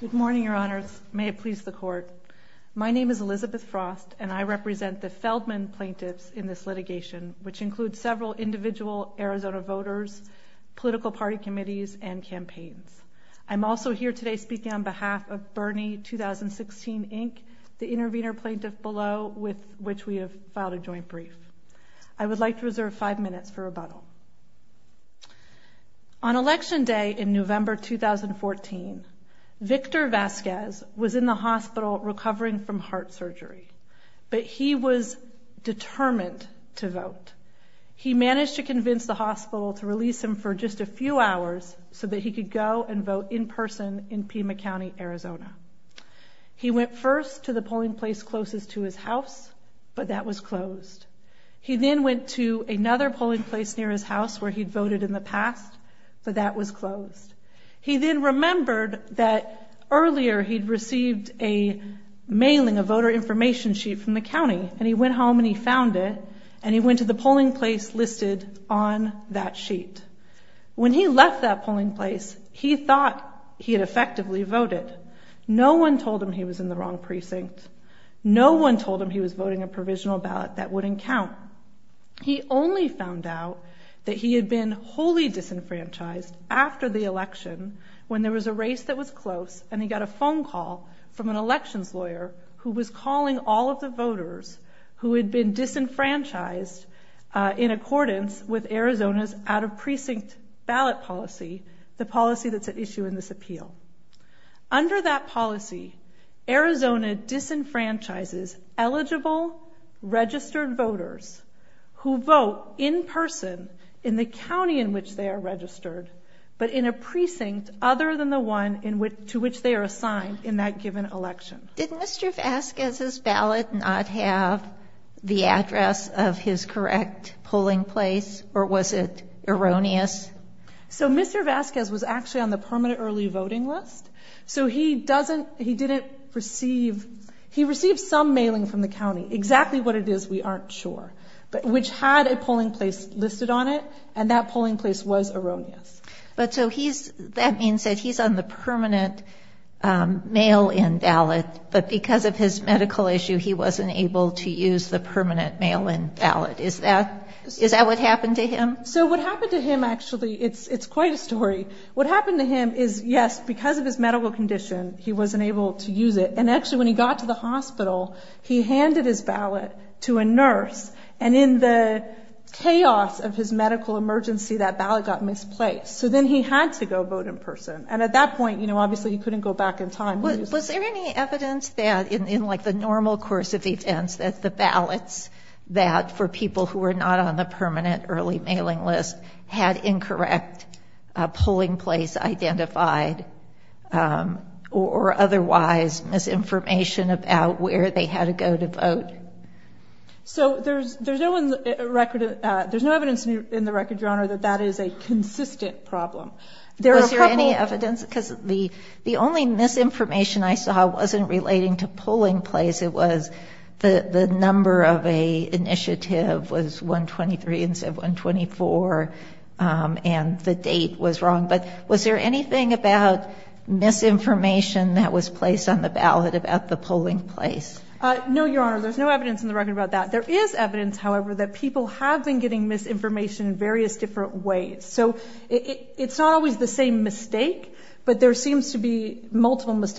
Good morning, Your Honors. May it please the Court. My name is Elizabeth Frost and I represent the Feldman plaintiffs in this litigation, which includes several individual Arizona voters, political party committees and campaigns. I'm also here today speaking on behalf of Bernie 2016 Inc., the intervener plaintiff below, with which we have filed a joint brief. I would like to reserve five minutes for rebuttal. On Election Day in November 2014, Victor Vasquez was in the hospital recovering from heart surgery, but he was determined to vote. He managed to convince the hospital to release him for just a few hours so that he could go and vote in person in Pima County, Arizona. He went first to the polling place closest to his house, but that was closed. He then went to another house where he'd voted in the past, but that was closed. He then remembered that earlier he'd received a mailing, a voter information sheet from the county, and he went home and he found it, and he went to the polling place listed on that sheet. When he left that polling place, he thought he had effectively voted. No one told him he was in the wrong precinct. No one told him he was voting a provisional ballot that wouldn't count. He only found out that he had been wholly disenfranchised after the election when there was a race that was close, and he got a phone call from an elections lawyer who was calling all of the voters who had been disenfranchised in accordance with Arizona's out of precinct ballot policy, the policy that's at issue in this appeal. Under that policy, Arizona disenfranchises eligible registered voters who vote in person in the county in which they are registered, but in a precinct other than the one to which they are assigned in that given election. Did Mr. Vasquez's ballot not have the address of his correct polling place, or was it erroneous? So Mr. Vasquez was actually on the permanent early voting list, so he didn't receive... He received some mailing from the county, exactly what it is, we aren't sure, which had a polling place listed on it, and that polling place was erroneous. But so he's... That means that he's on the permanent mail-in ballot, but because of his medical issue, he wasn't able to use the permanent mail-in ballot. Is that what happened to him? So what happened to him, actually, it's quite a story. What happened to him is, yes, because of his medical condition, he wasn't able to use it, and actually, when he got to the hospital, he handed his ballot to a nurse, and in the chaos of his medical emergency, that ballot got misplaced. So then he had to go vote in person, and at that point, obviously, he couldn't go back in time. Was there any evidence that, in the normal course of events, that the ballots that for people who were not on the permanent early mailing list had incorrect polling place identified, or otherwise, misinformation about where they had to go to vote? So there's no evidence in the record, Your Honor, that that is a consistent problem. There are a couple... Was there any evidence? Because the only misinformation I saw wasn't relating to polling place, it was the number of a initiative was 123 instead of 124, and the date was wrong. But was there anything about misinformation that was placed on the ballot about the polling place? No, Your Honor, there's no evidence in the record about that. There is evidence, however, that people have been getting misinformation in various different ways. So it's not always the same mistake, but there seems to be a lot of people who, because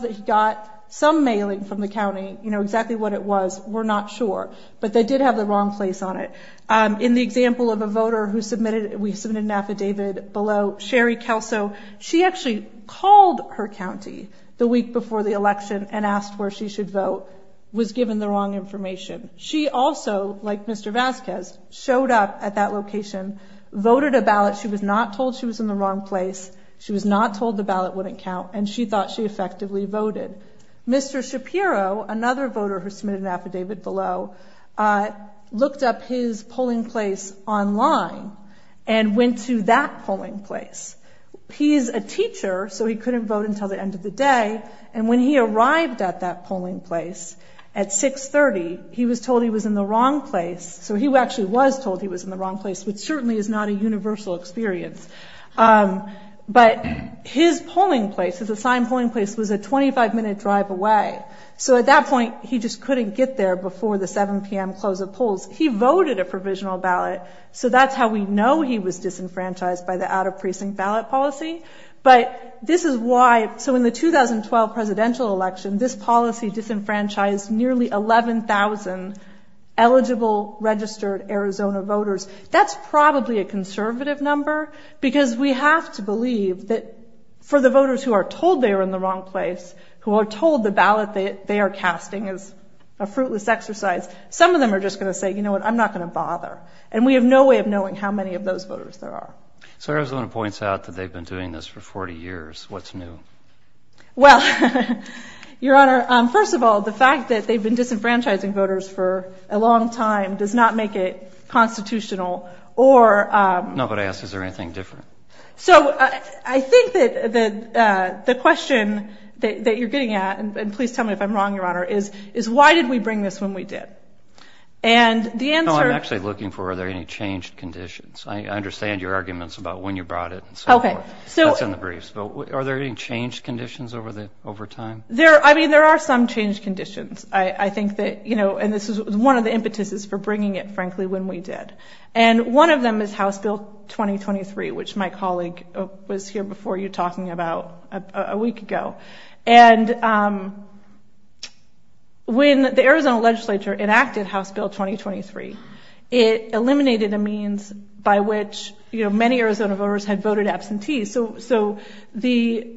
they got some mailing from the county, you know exactly what it was, were not sure, but they did have the wrong place on it. In the example of a voter who submitted... We submitted an affidavit below, Sherry Kelso, she actually called her county the week before the election and asked where she should vote, was given the wrong information. She also, like Mr. Vasquez, showed up at that location, voted a ballot. She was not told she was in the wrong place. She was not told the ballot wouldn't count, and she thought she effectively voted. Mr. Shapiro, another voter who submitted an affidavit below, looked up his polling place online and went to that polling place. He's a teacher, so he couldn't vote until the end of the day, and when he arrived at that polling place at 6.30, he was told he was in the wrong place. So he actually was told he was in the wrong place, which certainly is not a universal experience. But his polling place, his assigned polling place, was a 25 minute drive away. So at that point, he just couldn't get there before the 7 PM close of polls. He voted a provisional ballot, so that's how we know he was disenfranchised by the out of precinct ballot policy. But this is why... So in the 2012 presidential election, this policy disenfranchised nearly 11,000 eligible registered Arizona voters. That's probably a conservative number, because we have to believe that for the voters who are told they are in the wrong place, who are told the ballot they are casting is a fruitless exercise, some of them are just gonna say, you know what, I'm not gonna bother. And we have no way of knowing how many of those voters there are. So Arizona points out that they've been doing this for 40 years. What's new? Well, Your Honor, first of all, the fact that they've been disenfranchising voters for a long time does not make it constitutional or... No, but I ask, is there anything different? So I think that the question that you're getting at, and please tell me if I'm wrong, Your Honor, is why did we bring this when we did? And the answer... No, I'm actually looking for, are there any changed conditions? I understand your arguments about when you brought it and so forth. Okay. That's in the briefs, but are there any changed conditions over time? I mean, there are some changed conditions. I think that... And this is one of the impetuses for bringing it, frankly, when we did. And one of them is House Bill 2023, which my colleague was here before you talking about a week ago. And when the Arizona legislature enacted House Bill 2023, it eliminated a means by which many Arizona voters had voted absentee. So the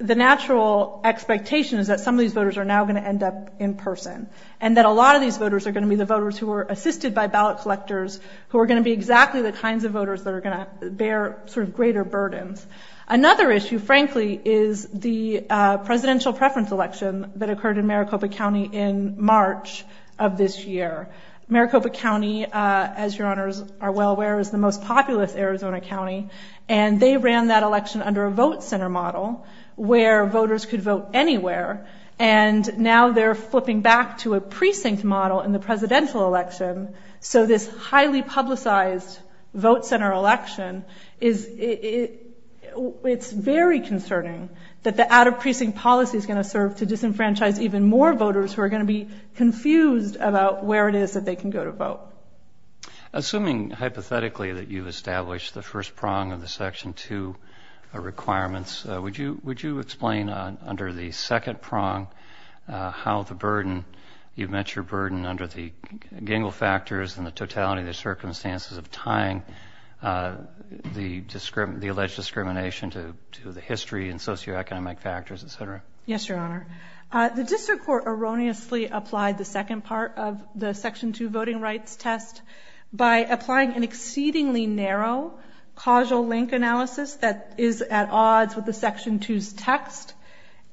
natural expectation is that some of these voters are now gonna end up in person, and that a lot of these voters are gonna be the voters who were assisted by ballot collectors, who are gonna be exactly the kinds of voters that are gonna bear greater burdens. Another issue, frankly, is the presidential preference election that occurred in Maricopa County in March of this year. Maricopa County, as Your Honors are well aware, is the most populous Arizona county, and they ran that election under a vote center model where voters could vote anywhere. And now they're flipping back to a precinct model in the presidential election. So this highly publicized vote center election, it's very concerning that the out of precinct policy is gonna serve to disenfranchise even more voters who are gonna be confused about where it is that they can go to vote. Assuming, hypothetically, that you've established the first prong of the section two requirements, would you explain under the second prong how the burden, you've met your burden under the gangle factors and the totality of the circumstances of tying Yes, Your Honor. The district court erroneously applied the second part of the section two voting rights test by applying an exceedingly narrow causal link analysis that is at odds with the section two's text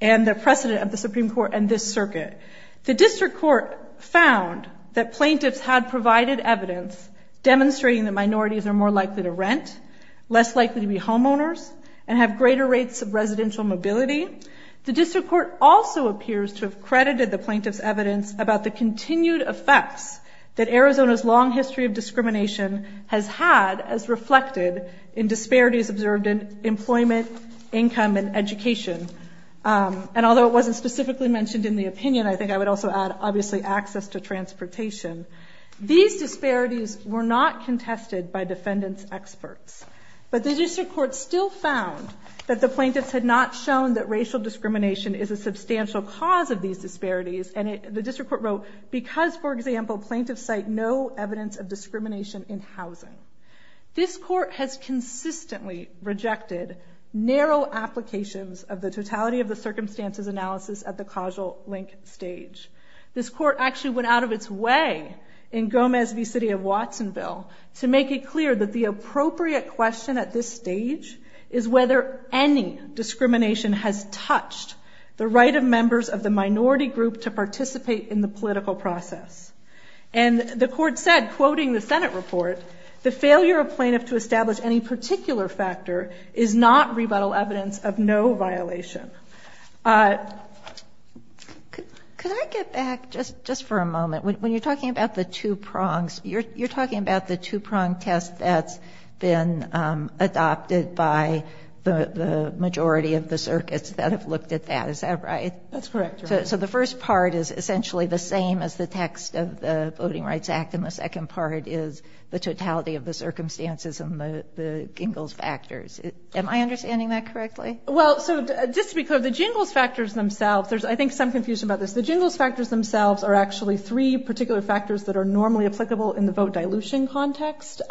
and the precedent of the Supreme Court and this circuit. The district court found that plaintiffs had provided evidence demonstrating that minorities are more likely to rent, less likely to be homeowners, and have greater rates of residential mobility. The district court also appears to have credited the plaintiff's evidence about the continued effects that Arizona's long history of discrimination has had as reflected in disparities observed in employment, income, and education. And although it wasn't specifically mentioned in the opinion, I think I would also add, obviously, access to transportation. These disparities were not contested by defendants' experts, but the district court still found that the plaintiffs had not shown that racial discrimination is a substantial cause of these disparities. And the district court wrote, because, for example, plaintiffs cite no evidence of discrimination in housing. This court has consistently rejected narrow applications of the totality of the circumstances analysis at the causal link stage. This court actually went out of its way in Gomez v. City of Watsonville to make it clear that the critical stage is whether any discrimination has touched the right of members of the minority group to participate in the political process. And the court said, quoting the Senate report, the failure of plaintiff to establish any particular factor is not rebuttal evidence of no violation. Could I get back just for a moment? When you're talking about the two prongs, you're talking about the two prong test that's been adopted by the majority of the circuits that have looked at that, is that right? That's correct. So the first part is essentially the same as the text of the Voting Rights Act, and the second part is the totality of the circumstances and the Jingles factors. Am I understanding that correctly? Well, so just to be clear, the Jingles factors themselves, there's, I think, some confusion about this. The Jingles factors themselves are actually three particular factors that are normally applicable in the vote dilution context.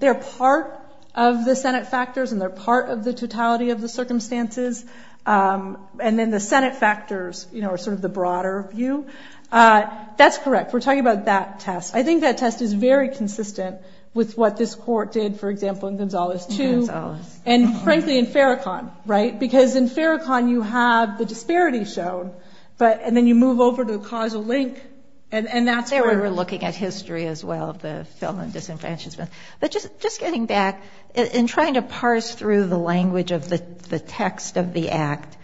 They're part of the Senate factors, and they're part of the totality of the circumstances. And then the Senate factors, you know, are sort of the broader view. That's correct. We're talking about that test. I think that test is very consistent with what this court did, for example, in Gonzalez too. And frankly, in Farrakhan, right? Because in Farrakhan, you have the disparity shown, but and then you move over to the causal link, and that's where... There we were looking at history as well, the felon disenfranchisement. But just getting back, in trying to parse through the language of the text of the Act,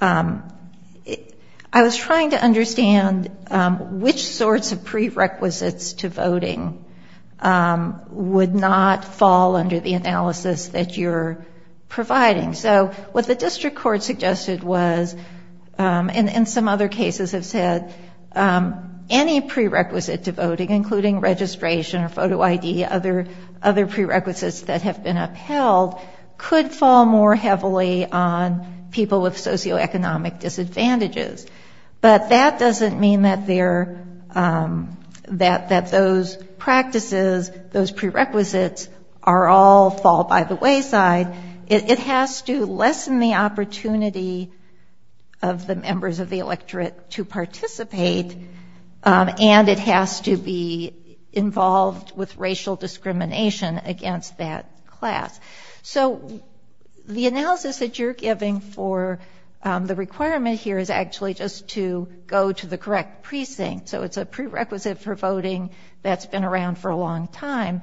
I was trying to understand which sorts of prerequisites to voting would not fall under the analysis that you're providing. So what the district court suggested was, and some other cases have said, any prerequisite to voting, including registration or photo ID, other prerequisites that have been upheld, could fall more heavily on people with socioeconomic disadvantages. But that doesn't mean that those practices, those prerequisites, all fall by the wayside. It has to lessen the opportunity of the members of the electorate to participate, and it has to be involved with racial discrimination against that class. So the analysis that you're giving for the requirement here is actually just to go to the correct precinct. So it's a prerequisite for voting that's been around for a long time.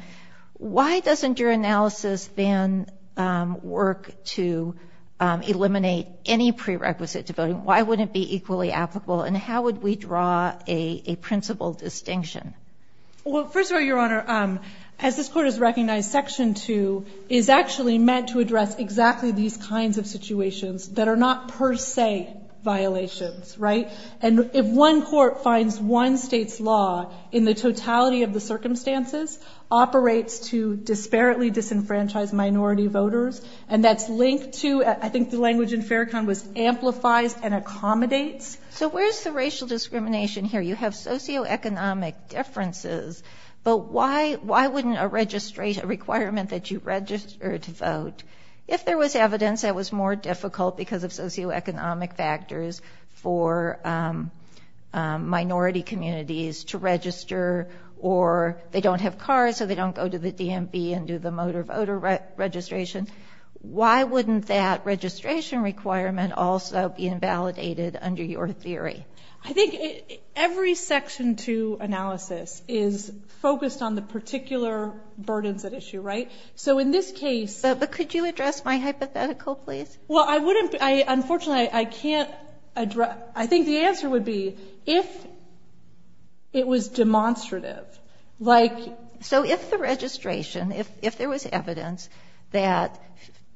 Why doesn't your analysis then work to eliminate any prerequisite to voting? Why wouldn't it be equally applicable, and how would we draw a principle distinction? Well, first of all, Your Honor, as this Court has recognized, Section 2 is actually meant to address exactly these kinds of situations that are not per se violations, right? And if one court finds one state's law, in the totality of the circumstances, operates to disparately disenfranchise minority voters, and that's linked to, I think the language in Farrakhan was, amplifies and accommodates. So where's the racial discrimination here? You have socioeconomic differences, but why wouldn't a requirement that you register to vote, if there was evidence that was more difficult because of socioeconomic factors for minority communities to register, or they don't have cars, so they don't go to the DMV and do the motor voter registration. Why wouldn't that registration requirement also be invalidated under your theory? I think every Section 2 analysis is focused on the particular burdens at issue, right? So in this case... But could you address my hypothetical, please? Well, I wouldn't, unfortunately, I can't address... I think the answer would be, if it was demonstrative, like... So if the registration, if there was evidence that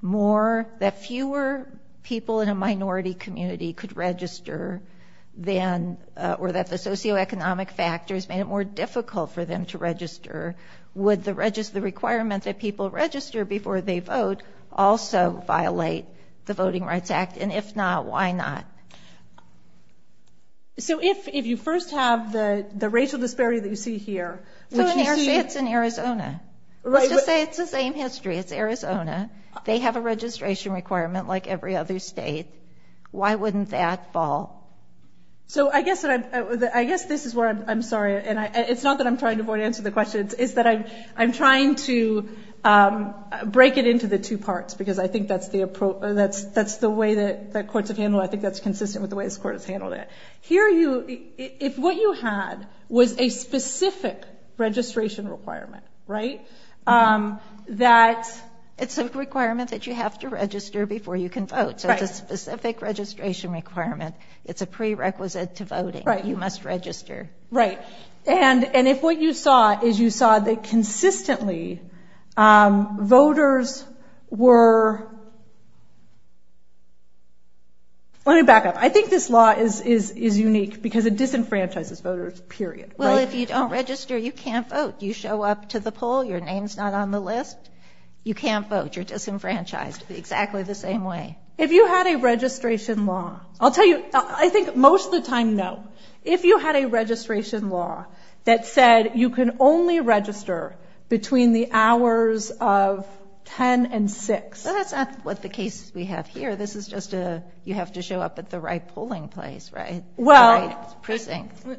more, that fewer people in a minority community could register, then, or that the socioeconomic factors made it more difficult for them to register, would the requirement that people register before they vote also violate the Voting Rights Act? And if not, why not? So if you first have the racial disparity that you see here... So let's say it's in Arizona. Let's just say it's the same history. It's Arizona. They have a registration requirement like every other state. Why wouldn't that fall? So I guess this is where I'm sorry, and it's not that I'm trying to avoid answering the questions, is that I'm trying to break it into the two parts, because I think that's the way that courts have handled it. I think that's consistent with the way this court has handled it. Here, if what you had was a specific registration requirement, right? That it's a requirement that you have to register before you can vote. So it's a specific registration requirement. It's a prerequisite to voting. You must register. Right. And if what you saw is you saw that consistently voters were... Let me back up. I think this law is unique because it disenfranchises voters, period. Well, if you don't register, you can't vote. You show up to the poll, your name's not on the list, you can't vote. You're disenfranchised exactly the same way. If you had a registration law... I'll tell you, I think most of the time, no. If you had a registration law that said you can only register between the hours of 10 and 6... Well, that's not what the case we have here. This is just a... You have to show up at the right polling place, right? The right precinct. Well,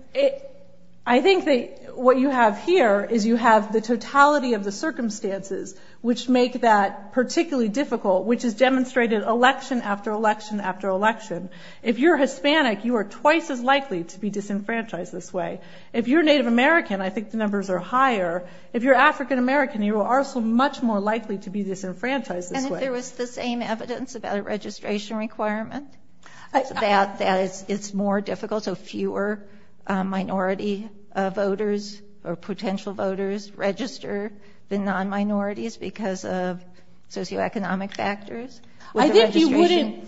I think that what you have here is you have the totality of the circumstances which make that particularly difficult, which is demonstrated election after election after election. If you're Hispanic, you are twice as likely to be disenfranchised this way. If you're Native American, I think the numbers are higher. If you're African American, you are also much more likely to be disenfranchised this way. And if there was the same evidence about a registration requirement, that it's more difficult, so fewer minority voters or potential voters register than non-minorities because of socioeconomic factors? I think you wouldn't...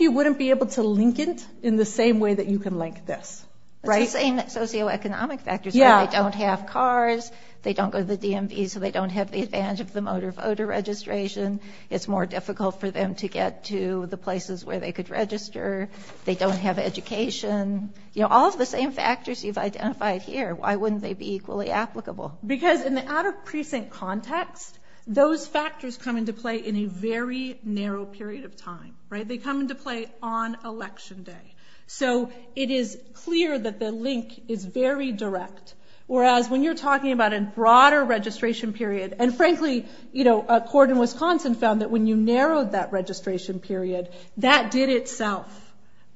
You wouldn't be able to link it in the same way that you can link this. Right? It's the same socioeconomic factors. Yeah. They don't have cars, they don't go to the DMV, so they don't have the advantage of the motor voter registration. It's more difficult for them to get to the places where they could register. They don't have education. All of the same factors you've identified here, why wouldn't they be equally applicable? Because in the outer precinct context, those factors come into play in a very narrow period of time. They come into play on election day. So it is clear that the link is very direct. Whereas when you're talking about a broader registration period, and frankly, a court in Wisconsin found that when you narrowed that registration period, that did itself...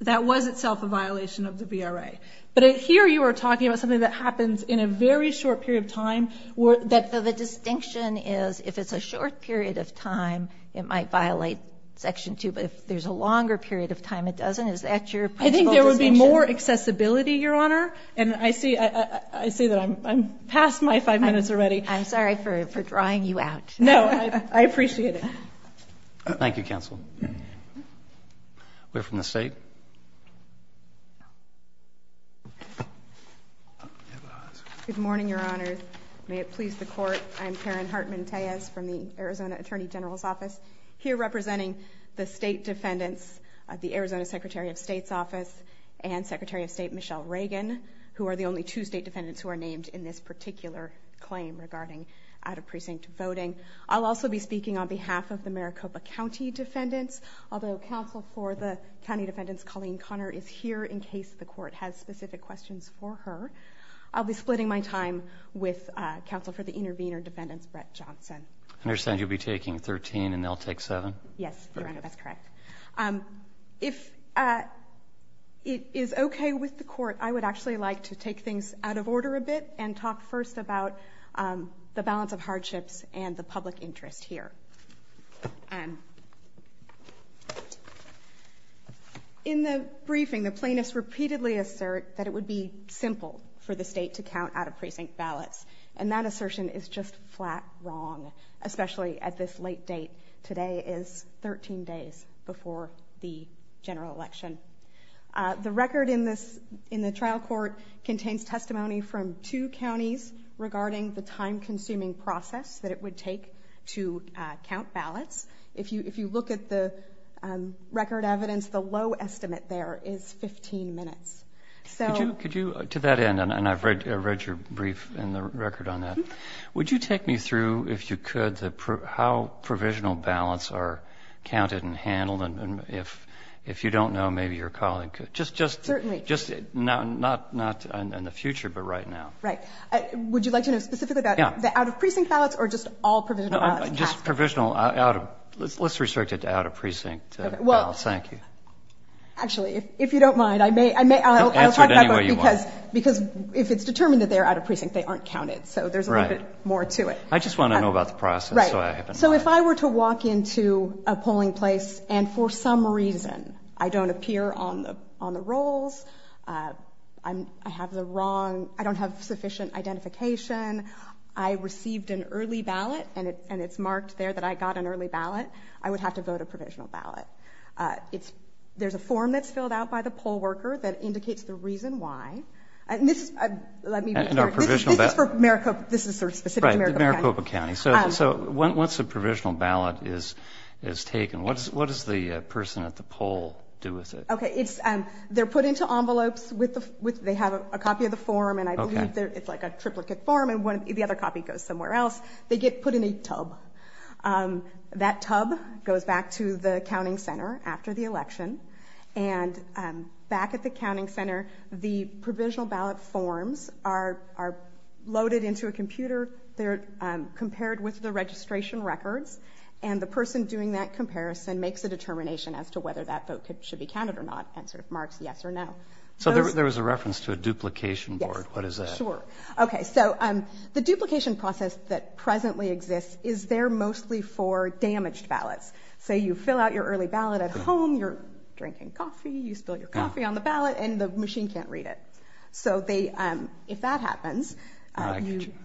That was itself a violation of the VRA. But here you are talking about something that happens in a very short period of time. The distinction is, if it's a short period of time, it might violate section two. But if there's a longer period of time, it doesn't. Is that your principle distinction? I think there would be more accessibility, Your Honor. And I see that I'm past my five minutes already. I'm sorry for drawing you out. No, I appreciate it. Thank you, counsel. We're from the state. Good morning, Your Honor. May it please the court. I'm Karen Hartman-Tayez from the Arizona Attorney General's Office, here representing the state defendants, the Arizona Secretary of State's office, and Secretary of State Michelle Reagan, who are the only two state defendants who are named in this particular claim regarding out of precinct voting. I'll also be speaking on behalf of the Maricopa County defendants. Although counsel for the county defendants, Colleen Connor, is here in case the court has specific questions for her. I'll be splitting my time with counsel for the intervener defendants, Brett Johnson. I understand you'll be taking 13 and they'll take 7? Yes, Your Honor, that's correct. If it is okay with the court, I would actually like to take things out of order a bit and talk first about the balance of hardships and the public interest here. In the briefing, the plaintiffs repeatedly assert that it would be simple for the state to count out of precinct ballots. And that assertion is just flat wrong, especially at this late date. Today is 13 days before the general election. The record in the trial court contains testimony from two counties regarding the time consuming process that it would take to count ballots. If you look at the record evidence, the low estimate there is 15 minutes. Could you, to that end, and I've read your brief and the testimony, could you take me through, if you could, how provisional ballots are counted and handled? And if you don't know, maybe your colleague could. Just not in the future, but right now. Right. Would you like to know specifically about the out of precinct ballots or just all provisional ballots? Just provisional. Let's restrict it to out of precinct ballots. Thank you. Actually, if you don't mind, I'll talk about it because if it's determined that they're out of precinct, they aren't counted. So there's a little bit more to it. I just want to know about the process. Right. So if I were to walk into a polling place and for some reason I don't appear on the on the rolls, I have the wrong, I don't have sufficient identification, I received an early ballot and it's marked there that I got an early ballot, I would have to vote a provisional ballot. There's a form that's filled out by the poll worker that indicates the reason why. And this is, let me be clear, this is for Maricopa, this is sort of specific to Maricopa County. So once a provisional ballot is taken, what does the person at the poll do with it? Okay. It's, they're put into envelopes with the, they have a copy of the form and I believe it's like a triplicate form and the other copy goes somewhere else. They get put in a tub. That tub goes back to the counting center after the election. And back at the counting center, the provisional ballot is loaded into a computer. They're compared with the registration records and the person doing that comparison makes a determination as to whether that vote should be counted or not and sort of marks yes or no. So there was a reference to a duplication board. What is that? Sure. Okay. So the duplication process that presently exists is there mostly for damaged ballots. So you fill out your early ballot at home, you're drinking coffee, you spill your coffee on the ballot and the machine can't read it. So they, if that happens,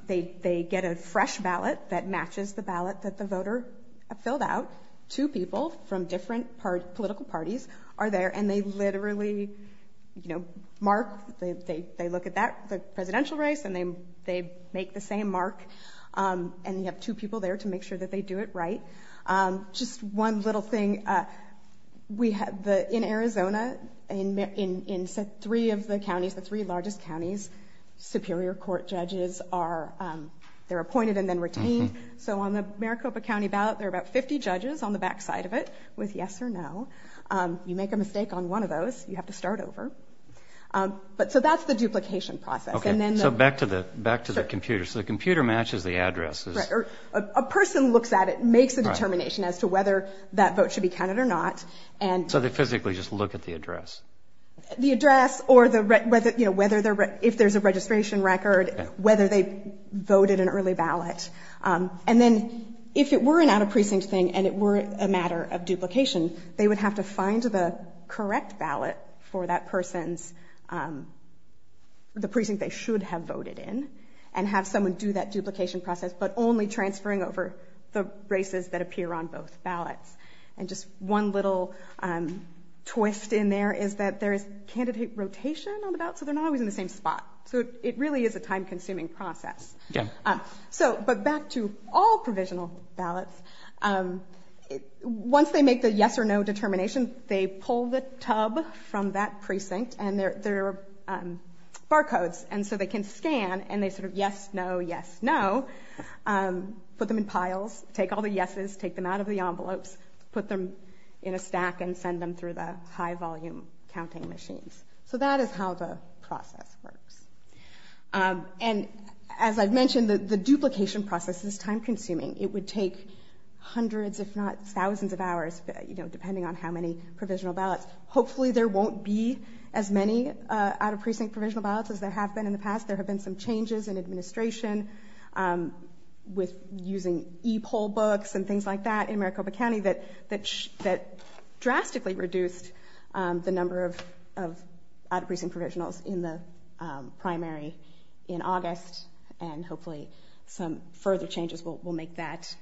they get a fresh ballot that matches the ballot that the voter filled out. Two people from different political parties are there and they literally mark, they look at the presidential race and they make the same mark. And you have two people there to make sure that they do it right. Just one little thing. In Arizona, in three of the counties, the three largest counties, superior court judges are, they're appointed and then retained. So on the Maricopa County ballot, there are about 50 judges on the backside of it with yes or no. You make a mistake on one of those, you have to start over. But so that's the duplication process. Okay. So back to the computer. So the computer matches the addresses. Right. Or a person looks at it, makes a determination as to whether that vote should be counted or not and... So they physically just look at the address. The address or the... If there's a registration record, whether they voted an early ballot. And then if it were an out of precinct thing and it were a matter of duplication, they would have to find the correct ballot for that person's... The precinct they should have voted in and have someone do that duplication process, but only transferring over the races that appear on both ballots. Another twist in there is that there is candidate rotation on the ballots, so they're not always in the same spot. So it really is a time consuming process. Yeah. So, but back to all provisional ballots, once they make the yes or no determination, they pull the tub from that precinct and there are barcodes. And so they can scan and they sort of yes, no, yes, no, put them in piles, take all the yeses, take them out of the pack, and send them through the high volume counting machines. So that is how the process works. And as I've mentioned, the duplication process is time consuming. It would take hundreds, if not thousands of hours, depending on how many provisional ballots. Hopefully, there won't be as many out of precinct provisional ballots as there have been in the past. There have been some changes in administration with using e poll books and things like that in Maricopa County that drastically reduced the number of out of precinct provisionals in the primary in August. And hopefully, some further changes will make that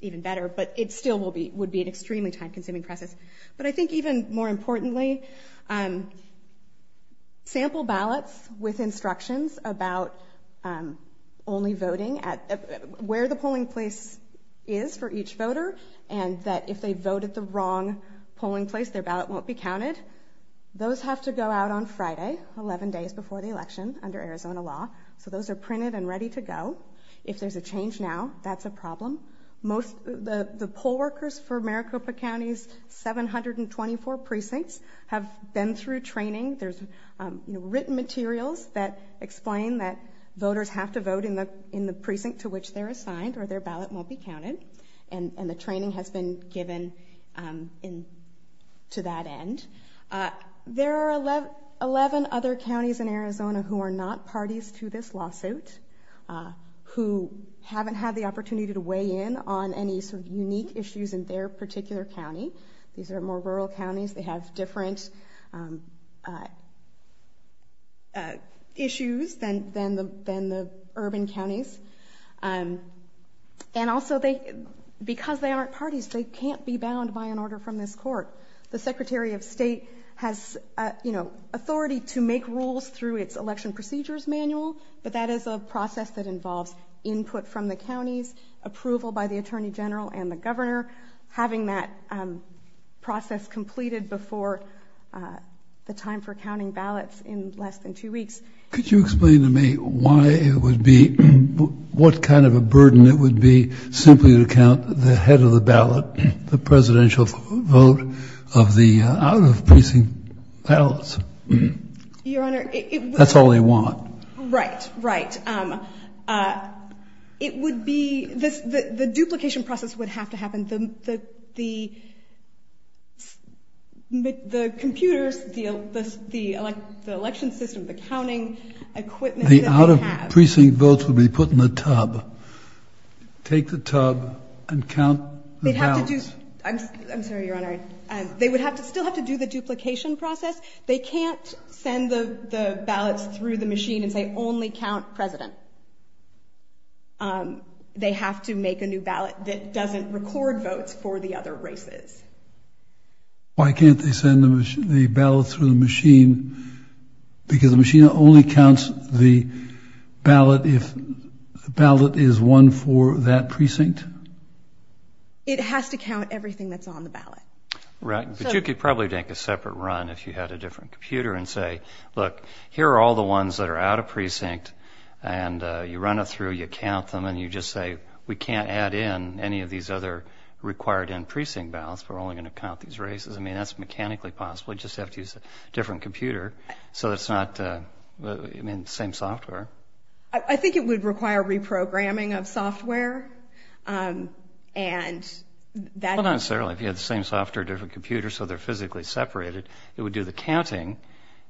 even better. But it still would be an extremely time consuming process. But I think even more importantly, sample ballots with instructions about only voting at where the polling place is for each voter and that if they voted the wrong polling place, their ballot won't be counted. Those have to go out on Friday, 11 days before the election under Arizona law. So those are printed and ready to go. If there's a change now, that's a problem. The poll workers for Maricopa County's 724 precincts have been through training. There's written materials that explain that voters have to vote in the precinct to which they're assigned or their ballot won't be counted. And the training has been given to that end. There are 11 other counties in Arizona who are not parties to this lawsuit, who haven't had the opportunity to weigh in on any sort of unique issues in their particular county. These are more rural counties. They have different issues than the urban counties. And also, because they aren't parties, they can't be bound by an order from this court. The Secretary of State has authority to make rules through its election procedures manual, but that is a process that involves input from the counties, approval by the Attorney General and the Governor. Having that ballot in less than two weeks. Could you explain to me why it would be, what kind of a burden it would be simply to count the head of the ballot, the presidential vote of the out-of-precinct ballots? Your Honor, it... That's all they want. Right, right. It would be... The duplication process would have to happen. The computers, the election system, the counting equipment... The out-of-precinct votes would be put in the tub. Take the tub and count the ballots. I'm sorry, Your Honor. They would have to, still have to do the duplication process. They can't send the ballots through the machine and say, only count President. They have to make a new ballot that doesn't record votes for the other races. Why can't they send the ballot through the machine? Because the machine only counts the ballot if the ballot is one for that precinct? It has to count everything that's on the ballot. Right, but you could probably take a separate run if you had a different computer and say, look, here are all the ones that are out-of-precinct and you run it through, you count them and you just say, we can't add in any of these other required in-precinct ballots. We're only going to count these races. I mean, that's mechanically possible. You just have to use a different computer so it's not, I mean, the same software. I think it would require reprogramming of software and that... Well, not necessarily. If you had the same software, different computer, so they're physically separated, it would do the counting,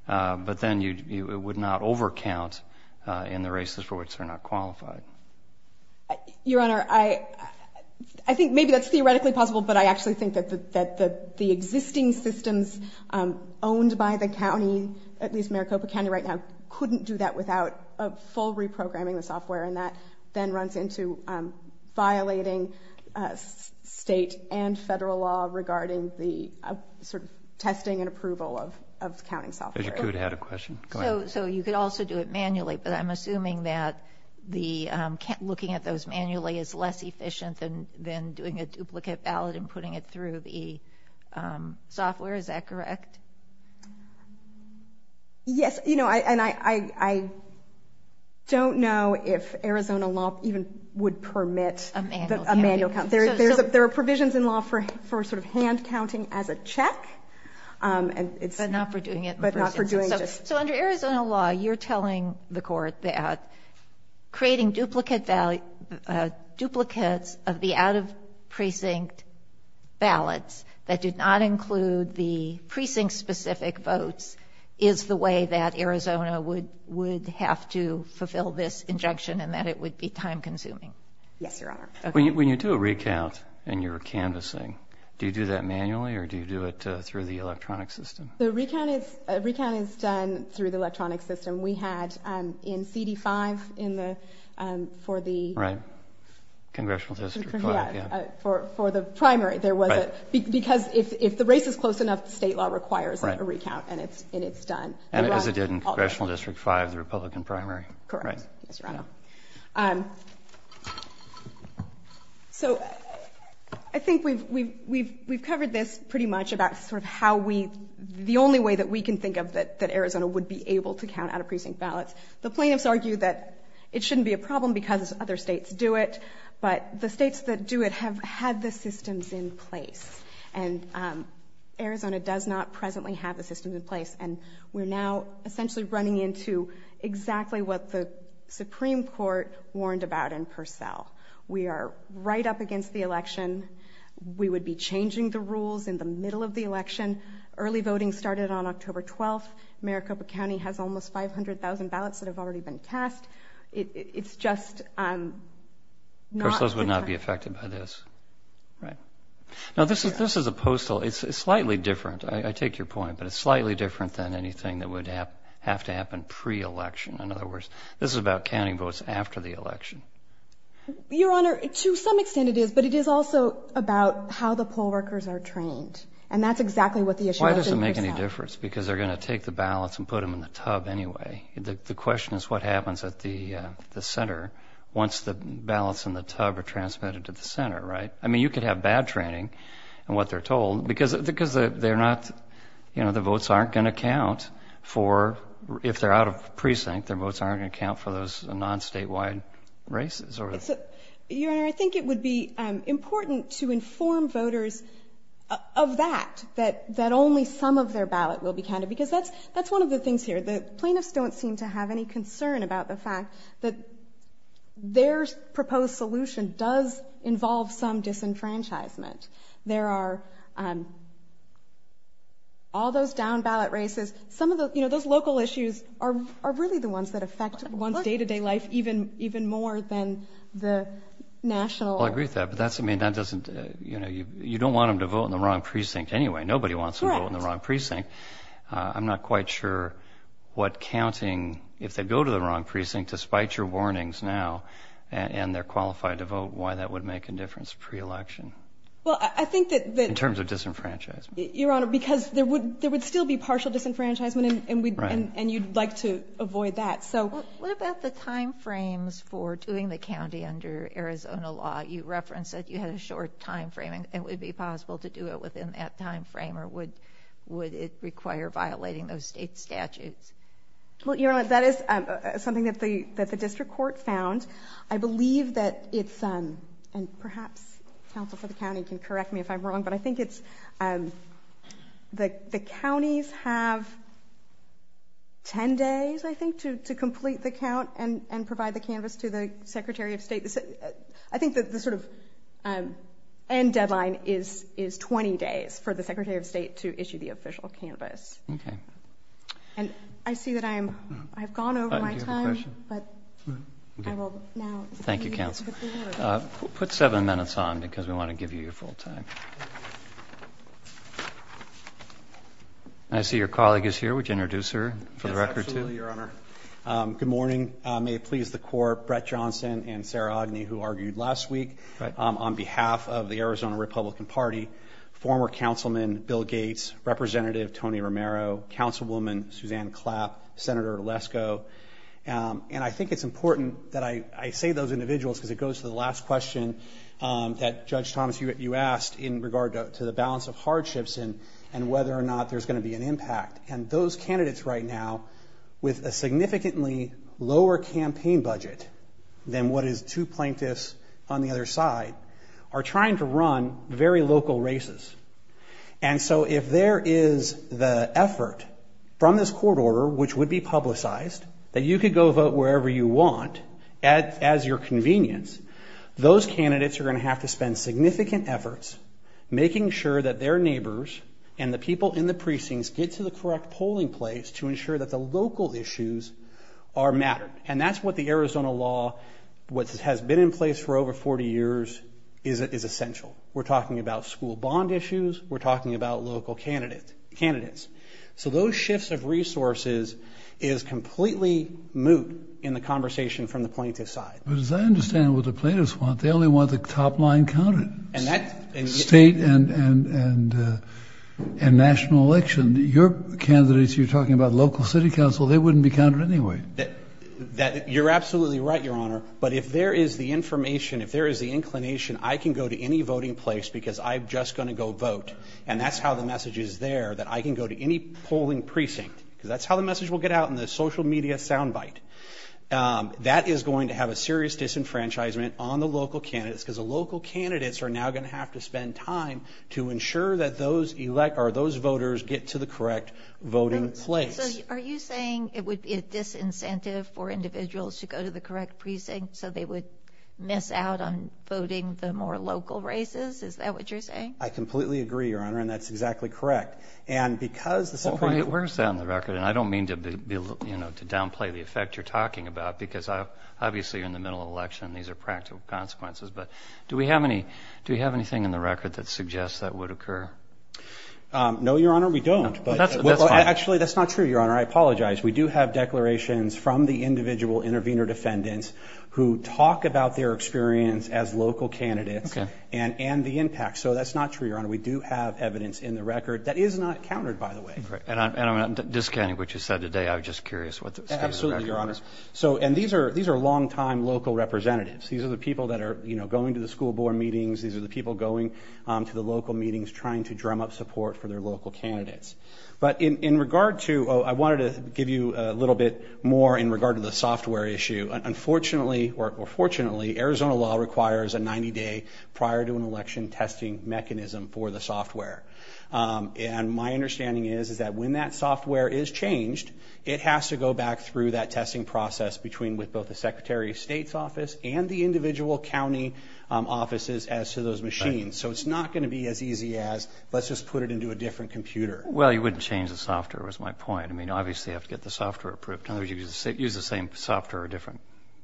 but then you would not over count in the races for which they're not qualified. Your Honor, I think maybe that's theoretically possible, but I actually think that the existing systems owned by the county, at least Maricopa County right now, couldn't do that without a full reprogramming of software and that then runs into violating state and federal law regarding the sort of testing and approval of counting software. Judge Acute had a question about whether looking at those manually is less efficient than doing a duplicate ballot and putting it through the software. Is that correct? Yes, you know, and I don't know if Arizona law even would permit a manual count. There are provisions in law for sort of hand counting as a check and it's... But not for doing it in person. So under Arizona law, you're telling the duplicates of the out-of-precinct ballots that did not include the precinct-specific votes is the way that Arizona would have to fulfill this injunction and that it would be time-consuming. Yes, your Honor. When you do a recount and you're canvassing, do you do that manually or do you do it through the electronic system? The recount is done through the electronic system for the primary. Because if the race is close enough, the state law requires a recount and it's done. And as it did in Congressional District 5, the Republican primary. Correct. So I think we've covered this pretty much about sort of how we, the only way that we can think of that Arizona would be able to count out-of-precinct ballots. The plaintiffs argue that it shouldn't be a problem because other states do it. But the states that do it have had the systems in place. And Arizona does not presently have a system in place. And we're now essentially running into exactly what the Supreme Court warned about in Purcell. We are right up against the election. We would be changing the rules in the middle of the election. Early voting started on October 12th. Maricopa County has almost 500,000 ballots that have already been cast. It's just... Purcell would not be affected by this. Right. Now this is, this is a postal, it's slightly different. I take your point. But it's slightly different than anything that would have to happen pre-election. In other words, this is about counting votes after the election. Your Honor, to some extent it is. But it is also about how the poll workers are trained. And that's exactly what the issue is. Why does it make any difference? Because they're gonna take the ballots and put them in the tub anyway. The question is what happens at the center once the ballots in the tub are transmitted to the center, right? I mean, you could have bad training in what they're told. Because, because they're not, you know, the votes aren't gonna count for, if they're out of precinct, their votes aren't gonna count for those non statewide races. Your Honor, I think it would be important to inform voters of that. That, that only some of their ballot will be counted. Because that's, that's one of the things here. The plaintiffs don't seem to have any concern about the fact that their proposed solution does involve some disenfranchisement. There are all those down ballot races. Some of the, you know, those local issues are really the ones that affect one's day-to-day life even, even more than the national. I agree with that. But that's, I mean, that doesn't, you know, you don't want them to vote in the wrong precinct anyway. Nobody wants to vote in the wrong precinct. I'm not quite sure what counting, if they go to the wrong precinct, despite your warnings now, and they're qualified to vote, why that would make a difference pre-election? Well, I think that, in terms of disenfranchisement. Your Honor, because there would, there would still be partial disenfranchisement, and we'd, and you'd like to avoid that. So, what about the time frames for doing the county under Arizona law? You referenced that you had a short time frame, and it would be possible to do it within that time frame? Or would, would it require violating those state statutes? Well, Your Honor, that is something that the, that the district court found. I believe that it's, and perhaps counsel for the county can correct me if I'm wrong, but I think it's, the counties have ten days, I think, to complete the count and, and provide the canvas to the Secretary of State. I think that the sort of end days for the Secretary of State to issue the official canvas. Okay. And I see that I'm, I've gone over my time, but I will now. Thank you, counsel. Put seven minutes on, because we want to give you your full time. I see your colleague is here. Would you introduce her for the record, too? Yes, absolutely, Your Honor. Good morning. May it please the court, Brett Johnson and Sarah Agnew, who argued last week, on behalf of the Arizona Republican Party, former Councilman Bill Gates, Representative Tony Romero, Councilwoman Suzanne Clapp, Senator Lesko. And I think it's important that I say those individuals, because it goes to the last question that Judge Thomas, you, you asked in regard to the balance of hardships and, and whether or not there's going to be an impact. And those candidates right now, with a significantly lower campaign budget than what is two plaintiffs on the other side, are trying to run very local races. And so if there is the effort from this court order, which would be publicized, that you could go vote wherever you want, at, as your convenience, those candidates are going to have to spend significant efforts making sure that their neighbors and the people in the precincts get to the correct polling place to ensure that the local issues are mattered. And that's what the Arizona law, what has been in place for over 40 years, is essential. We're talking about school bond issues, we're talking about local candidate, candidates. So those shifts of resources is completely moot in the conversation from the plaintiff's side. But as I understand what the plaintiffs want, they only want the top line counted. State and, and, and national election. Your candidates, you're talking about local city council, they wouldn't be counted anyway. That, that, you're absolutely right, your honor. But if there is the information, if there is the inclination, I can go to any voting place because I'm just going to go vote. And that's how the message is there, that I can go to any polling precinct. Because that's how the message will get out in the social media soundbite. That is going to have a serious disenfranchisement on the local candidates, because the local candidates are now going to have to spend time to ensure that those elect, or those voters, get to the correct voting place. Are you saying it would be a disincentive for individuals to go to the correct precinct so they would miss out on voting the more local races? Is that what you're saying? I completely agree, your honor, and that's exactly correct. And because the Supreme Court... Where's that on the record? And I don't mean to be, you know, to downplay the effect you're talking about, because I, obviously you're in the middle of election, these are practical consequences. But do we have any, do we have anything in the record that suggests that would occur? Um, no, your honor, we don't. Actually, that's not true, your honor. I apologize. We do have declarations from the individual intervener defendants who talk about their experience as local candidates and, and the impact. So that's not true, your honor. We do have evidence in the record that is not countered, by the way. And I'm not discounting what you said today, I'm just curious what... Absolutely, your honor. So, and these are, these are longtime local representatives. These are the people that are, you know, going to the school board meetings. These are the people going to the local meetings trying to drum up support for their local candidates. But in regard to, I wanted to give you a little bit more in regard to the software issue. Unfortunately, or fortunately, Arizona law requires a 90-day prior to an election testing mechanism for the software. And my understanding is, is that when that software is changed, it has to go back through that testing process between with both the Secretary of State's office and the individual county offices as to those machines. So it's not going to be as easy as, let's just put it into a different computer. Well, you wouldn't change the software, was my point. I mean, obviously, you have to get the software approved. In other words, you could use the same software or a different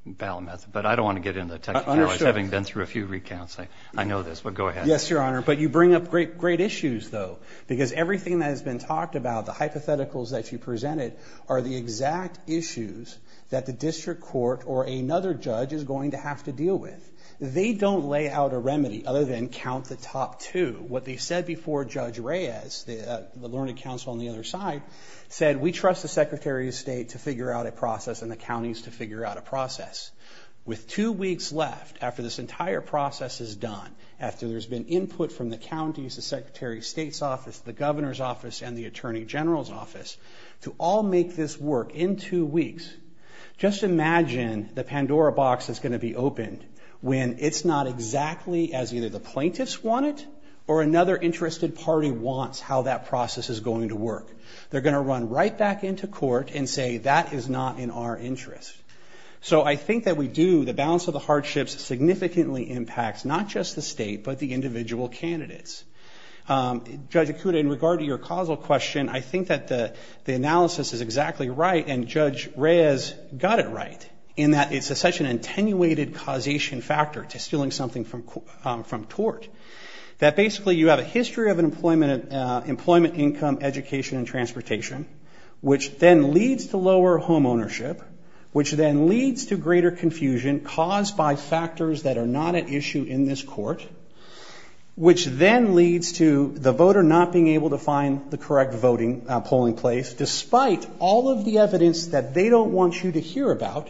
ballot method. But I don't want to get into the technicalities, having been through a few recounts. I know this, but go ahead. Yes, your honor. But you bring up great, great issues, though. Because everything that has been talked about, the hypotheticals that you presented, are the exact issues that the district court or another judge is going to have to deal with. They don't lay out a remedy other than count the top two. What they said before Judge Reyes, the learning counsel on the other side, said we trust the Secretary of State to figure out a process and the counties to figure out a process. With two weeks left after this entire process is done, after there's been input from the counties, the Secretary of State's office, the Governor's office, and the Attorney General's office, to all make this work in two weeks, just imagine the Pandora box is going to be opened when it's not exactly as either the plaintiffs want it or another interested party wants how that process is going to work. They're going to run right back into court and say that is not in our interest. So I think that we do, the balance of the hardships significantly impacts not just the state, but the individual candidates. Judge Ikuda, in regard to your causal question, I think that the analysis is exactly right, and Judge Reyes got it right, in that it's such an attenuated causation factor to stealing something from from tort. That basically you have a history of employment, employment income, education, and transportation, which then leads to lower home ownership, which then leads to greater confusion caused by factors that are not at issue in this court, which then leads to the voter not being able to find the correct polling place, despite all of the evidence that they don't want you to hear about,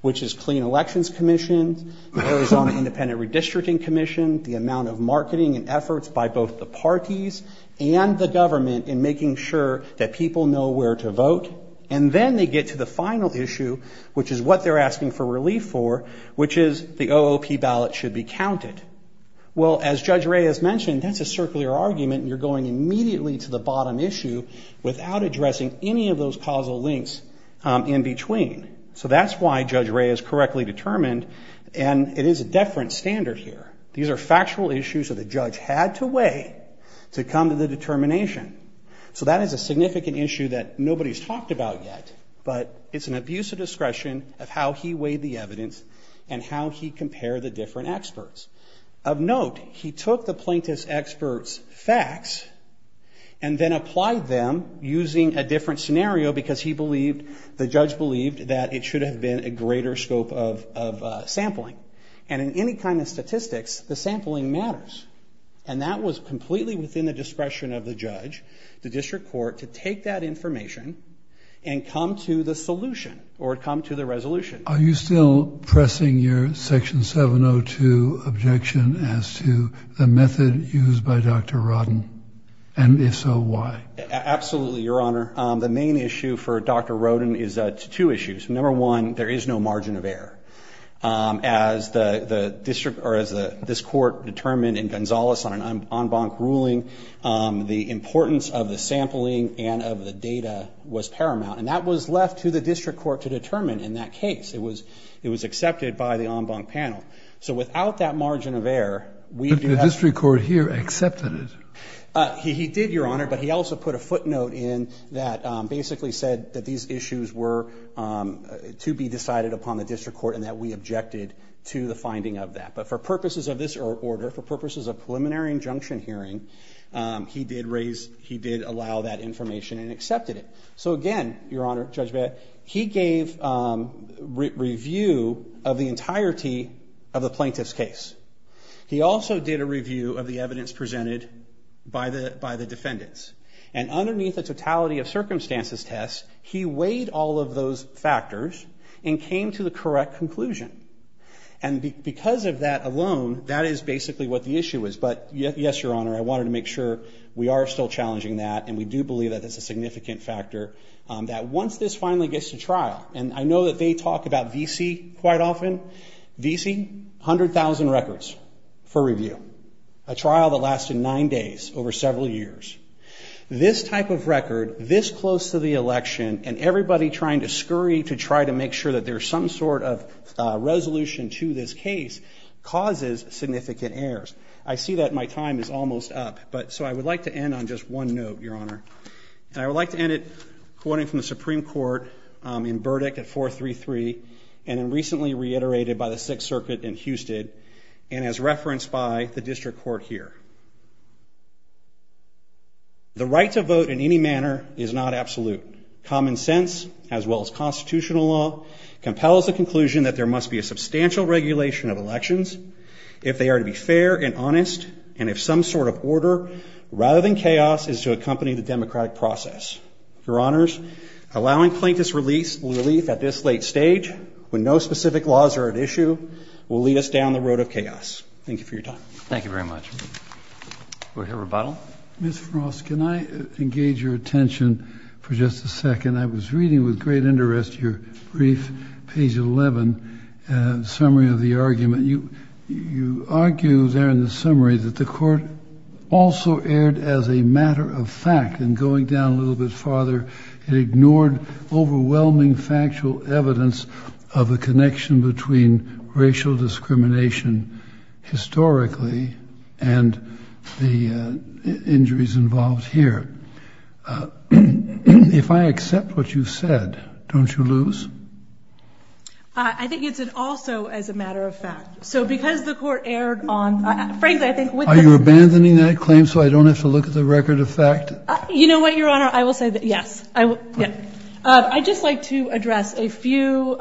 which is Clean Elections Commission, the Arizona Independent Redistricting Commission, the amount of marketing and efforts by both the parties and the government in making sure that people know where to vote, and then they get to the final issue, which is what they're asking for relief for, which is the OOP ballot should be counted. Well, as Judge Reyes said, the OOP ballot should be counted immediately to the bottom issue without addressing any of those causal links in between. So that's why Judge Reyes correctly determined, and it is a different standard here. These are factual issues that the judge had to weigh to come to the determination. So that is a significant issue that nobody's talked about yet, but it's an abuse of discretion of how he weighed the evidence and how he compared the different experts. Of note, he took the plaintiff's experts' facts and then applied them using a different scenario because he believed, the judge believed, that it should have been a greater scope of sampling. And in any kind of statistics, the sampling matters. And that was completely within the discretion of the judge, the district court, to take that information and come to the solution or come to the resolution. Are you still pressing your Section 702 objection as to the method used by Dr. Rodden? And if so, why? Absolutely, Your Honor. The main issue for Dr. Rodden is two issues. Number one, there is no margin of error. As the district, or as this court determined in Gonzales on an en banc ruling, the importance of the sampling and of the data was paramount. And that was left to the district court to determine in that case. It was accepted by the en banc panel. So without that margin of error, we do have... But the district court here accepted it. He did, Your Honor, but he also put a footnote in that basically said that these issues were to be decided upon the district court and that we objected to the finding of that. But for purposes of this order, for purposes of preliminary injunction hearing, he did raise, he did allow that information and accepted it. So again, Your Honor, Judge Bea, he gave review of the entirety of the plaintiff's case. He also did a review of the evidence presented by the defendants. And underneath a totality of circumstances test, he weighed all of those factors and came to the correct conclusion. And because of that alone, that is basically what the issue is. But yes, Your Honor, I wanted to make sure we are still that once this finally gets to trial, and I know that they talk about VC quite often. VC, 100,000 records for review. A trial that lasted nine days over several years. This type of record, this close to the election, and everybody trying to scurry to try to make sure that there's some sort of resolution to this case causes significant errors. I see that my time is almost up, but so I would like to end on just one note, Your Honor. And I would like to end it quoting from the Supreme Court in verdict at 433, and recently reiterated by the Sixth Circuit in Houston, and as referenced by the district court here. The right to vote in any manner is not absolute. Common sense, as well as constitutional law, compels the conclusion that there must be a substantial regulation of elections if they are to be fair and honest, and if some sort of chaos is to accompany the democratic process. Your Honors, allowing plaintiffs relief at this late stage, when no specific laws are at issue, will lead us down the road of chaos. Thank you for your time. Thank you very much. We'll hear rebuttal. Ms. Frost, can I engage your attention for just a second? I was reading with great interest your brief, page 11, summary of the argument. You argue there in the summary that the court also erred as a matter of fact, and going down a little bit farther, it ignored overwhelming factual evidence of a connection between racial discrimination historically, and the injuries involved here. If I accept what you've said, don't you lose? I think it's an also as a matter of fact. So because the court erred on, frankly, I think with... Are you abandoning that claim so I don't have to look at the record of fact? You know what, Your Honor? I will say that yes. I just like to address a few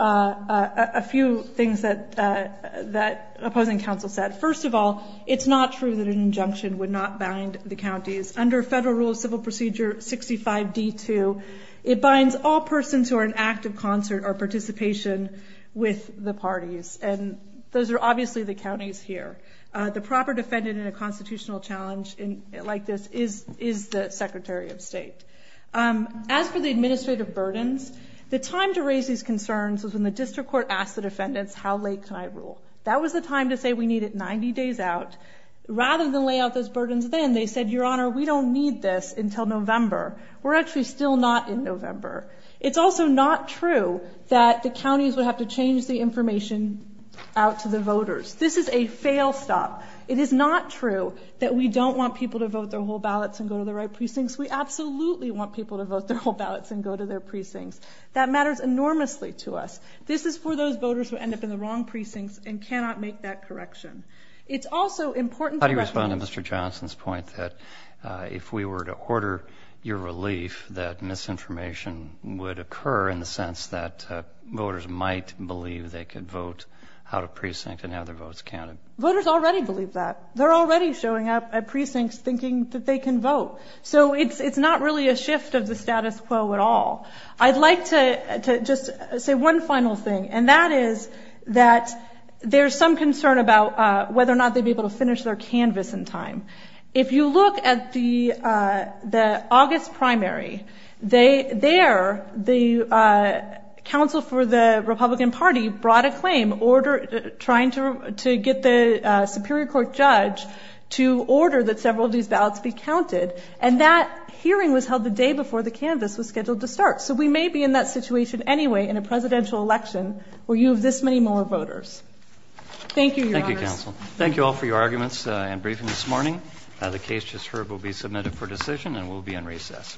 things that opposing counsel said. First of all, it's not true that an injunction would not bind the counties. Under federal rule of civil procedure 65D2, it binds all persons who are in active concert or participation with the parties, and those are obviously the counties here. The proper defendant in a constitutional challenge like this is the Secretary of State. As for the administrative burdens, the time to raise these concerns was when the district court asked the defendants, how late can I rule? That was the time to say we need it 90 days out. Rather than lay out those burdens then, they said, Your Honor, we don't need this until November. We're actually still not in November. It's also not true that the counties would have to change the information out to the voters. This is a fail stop. It is not true that we don't want people to vote their whole ballots and go to the right precincts. We absolutely want people to vote their whole ballots and go to their precincts. That matters enormously to us. This is for those voters who end up in the wrong precincts and cannot make that correction. It's also important to recognize... How do you respond to Mr. Johnson's point that if we were to order your relief, that misinformation would occur in the sense that voters might believe they could vote out of precinct and have their votes counted? Voters already believe that. They're already showing up at precincts thinking that they can vote. So it's not really a shift of the status quo at all. I'd like to just say one final thing, and that is that there's some concern about whether or not they'd be able to finish their canvas in time. If you look at the August primary, there, the council for the Republican Party brought a claim, trying to get the Superior Court judge to order that several of these ballots be counted. And that hearing was held the day before the canvas was scheduled to election, where you have this many more voters. Thank you, Your Honor. Thank you, counsel. Thank you all for your arguments and briefing this morning. The case just heard will be submitted for decision and will be in recess.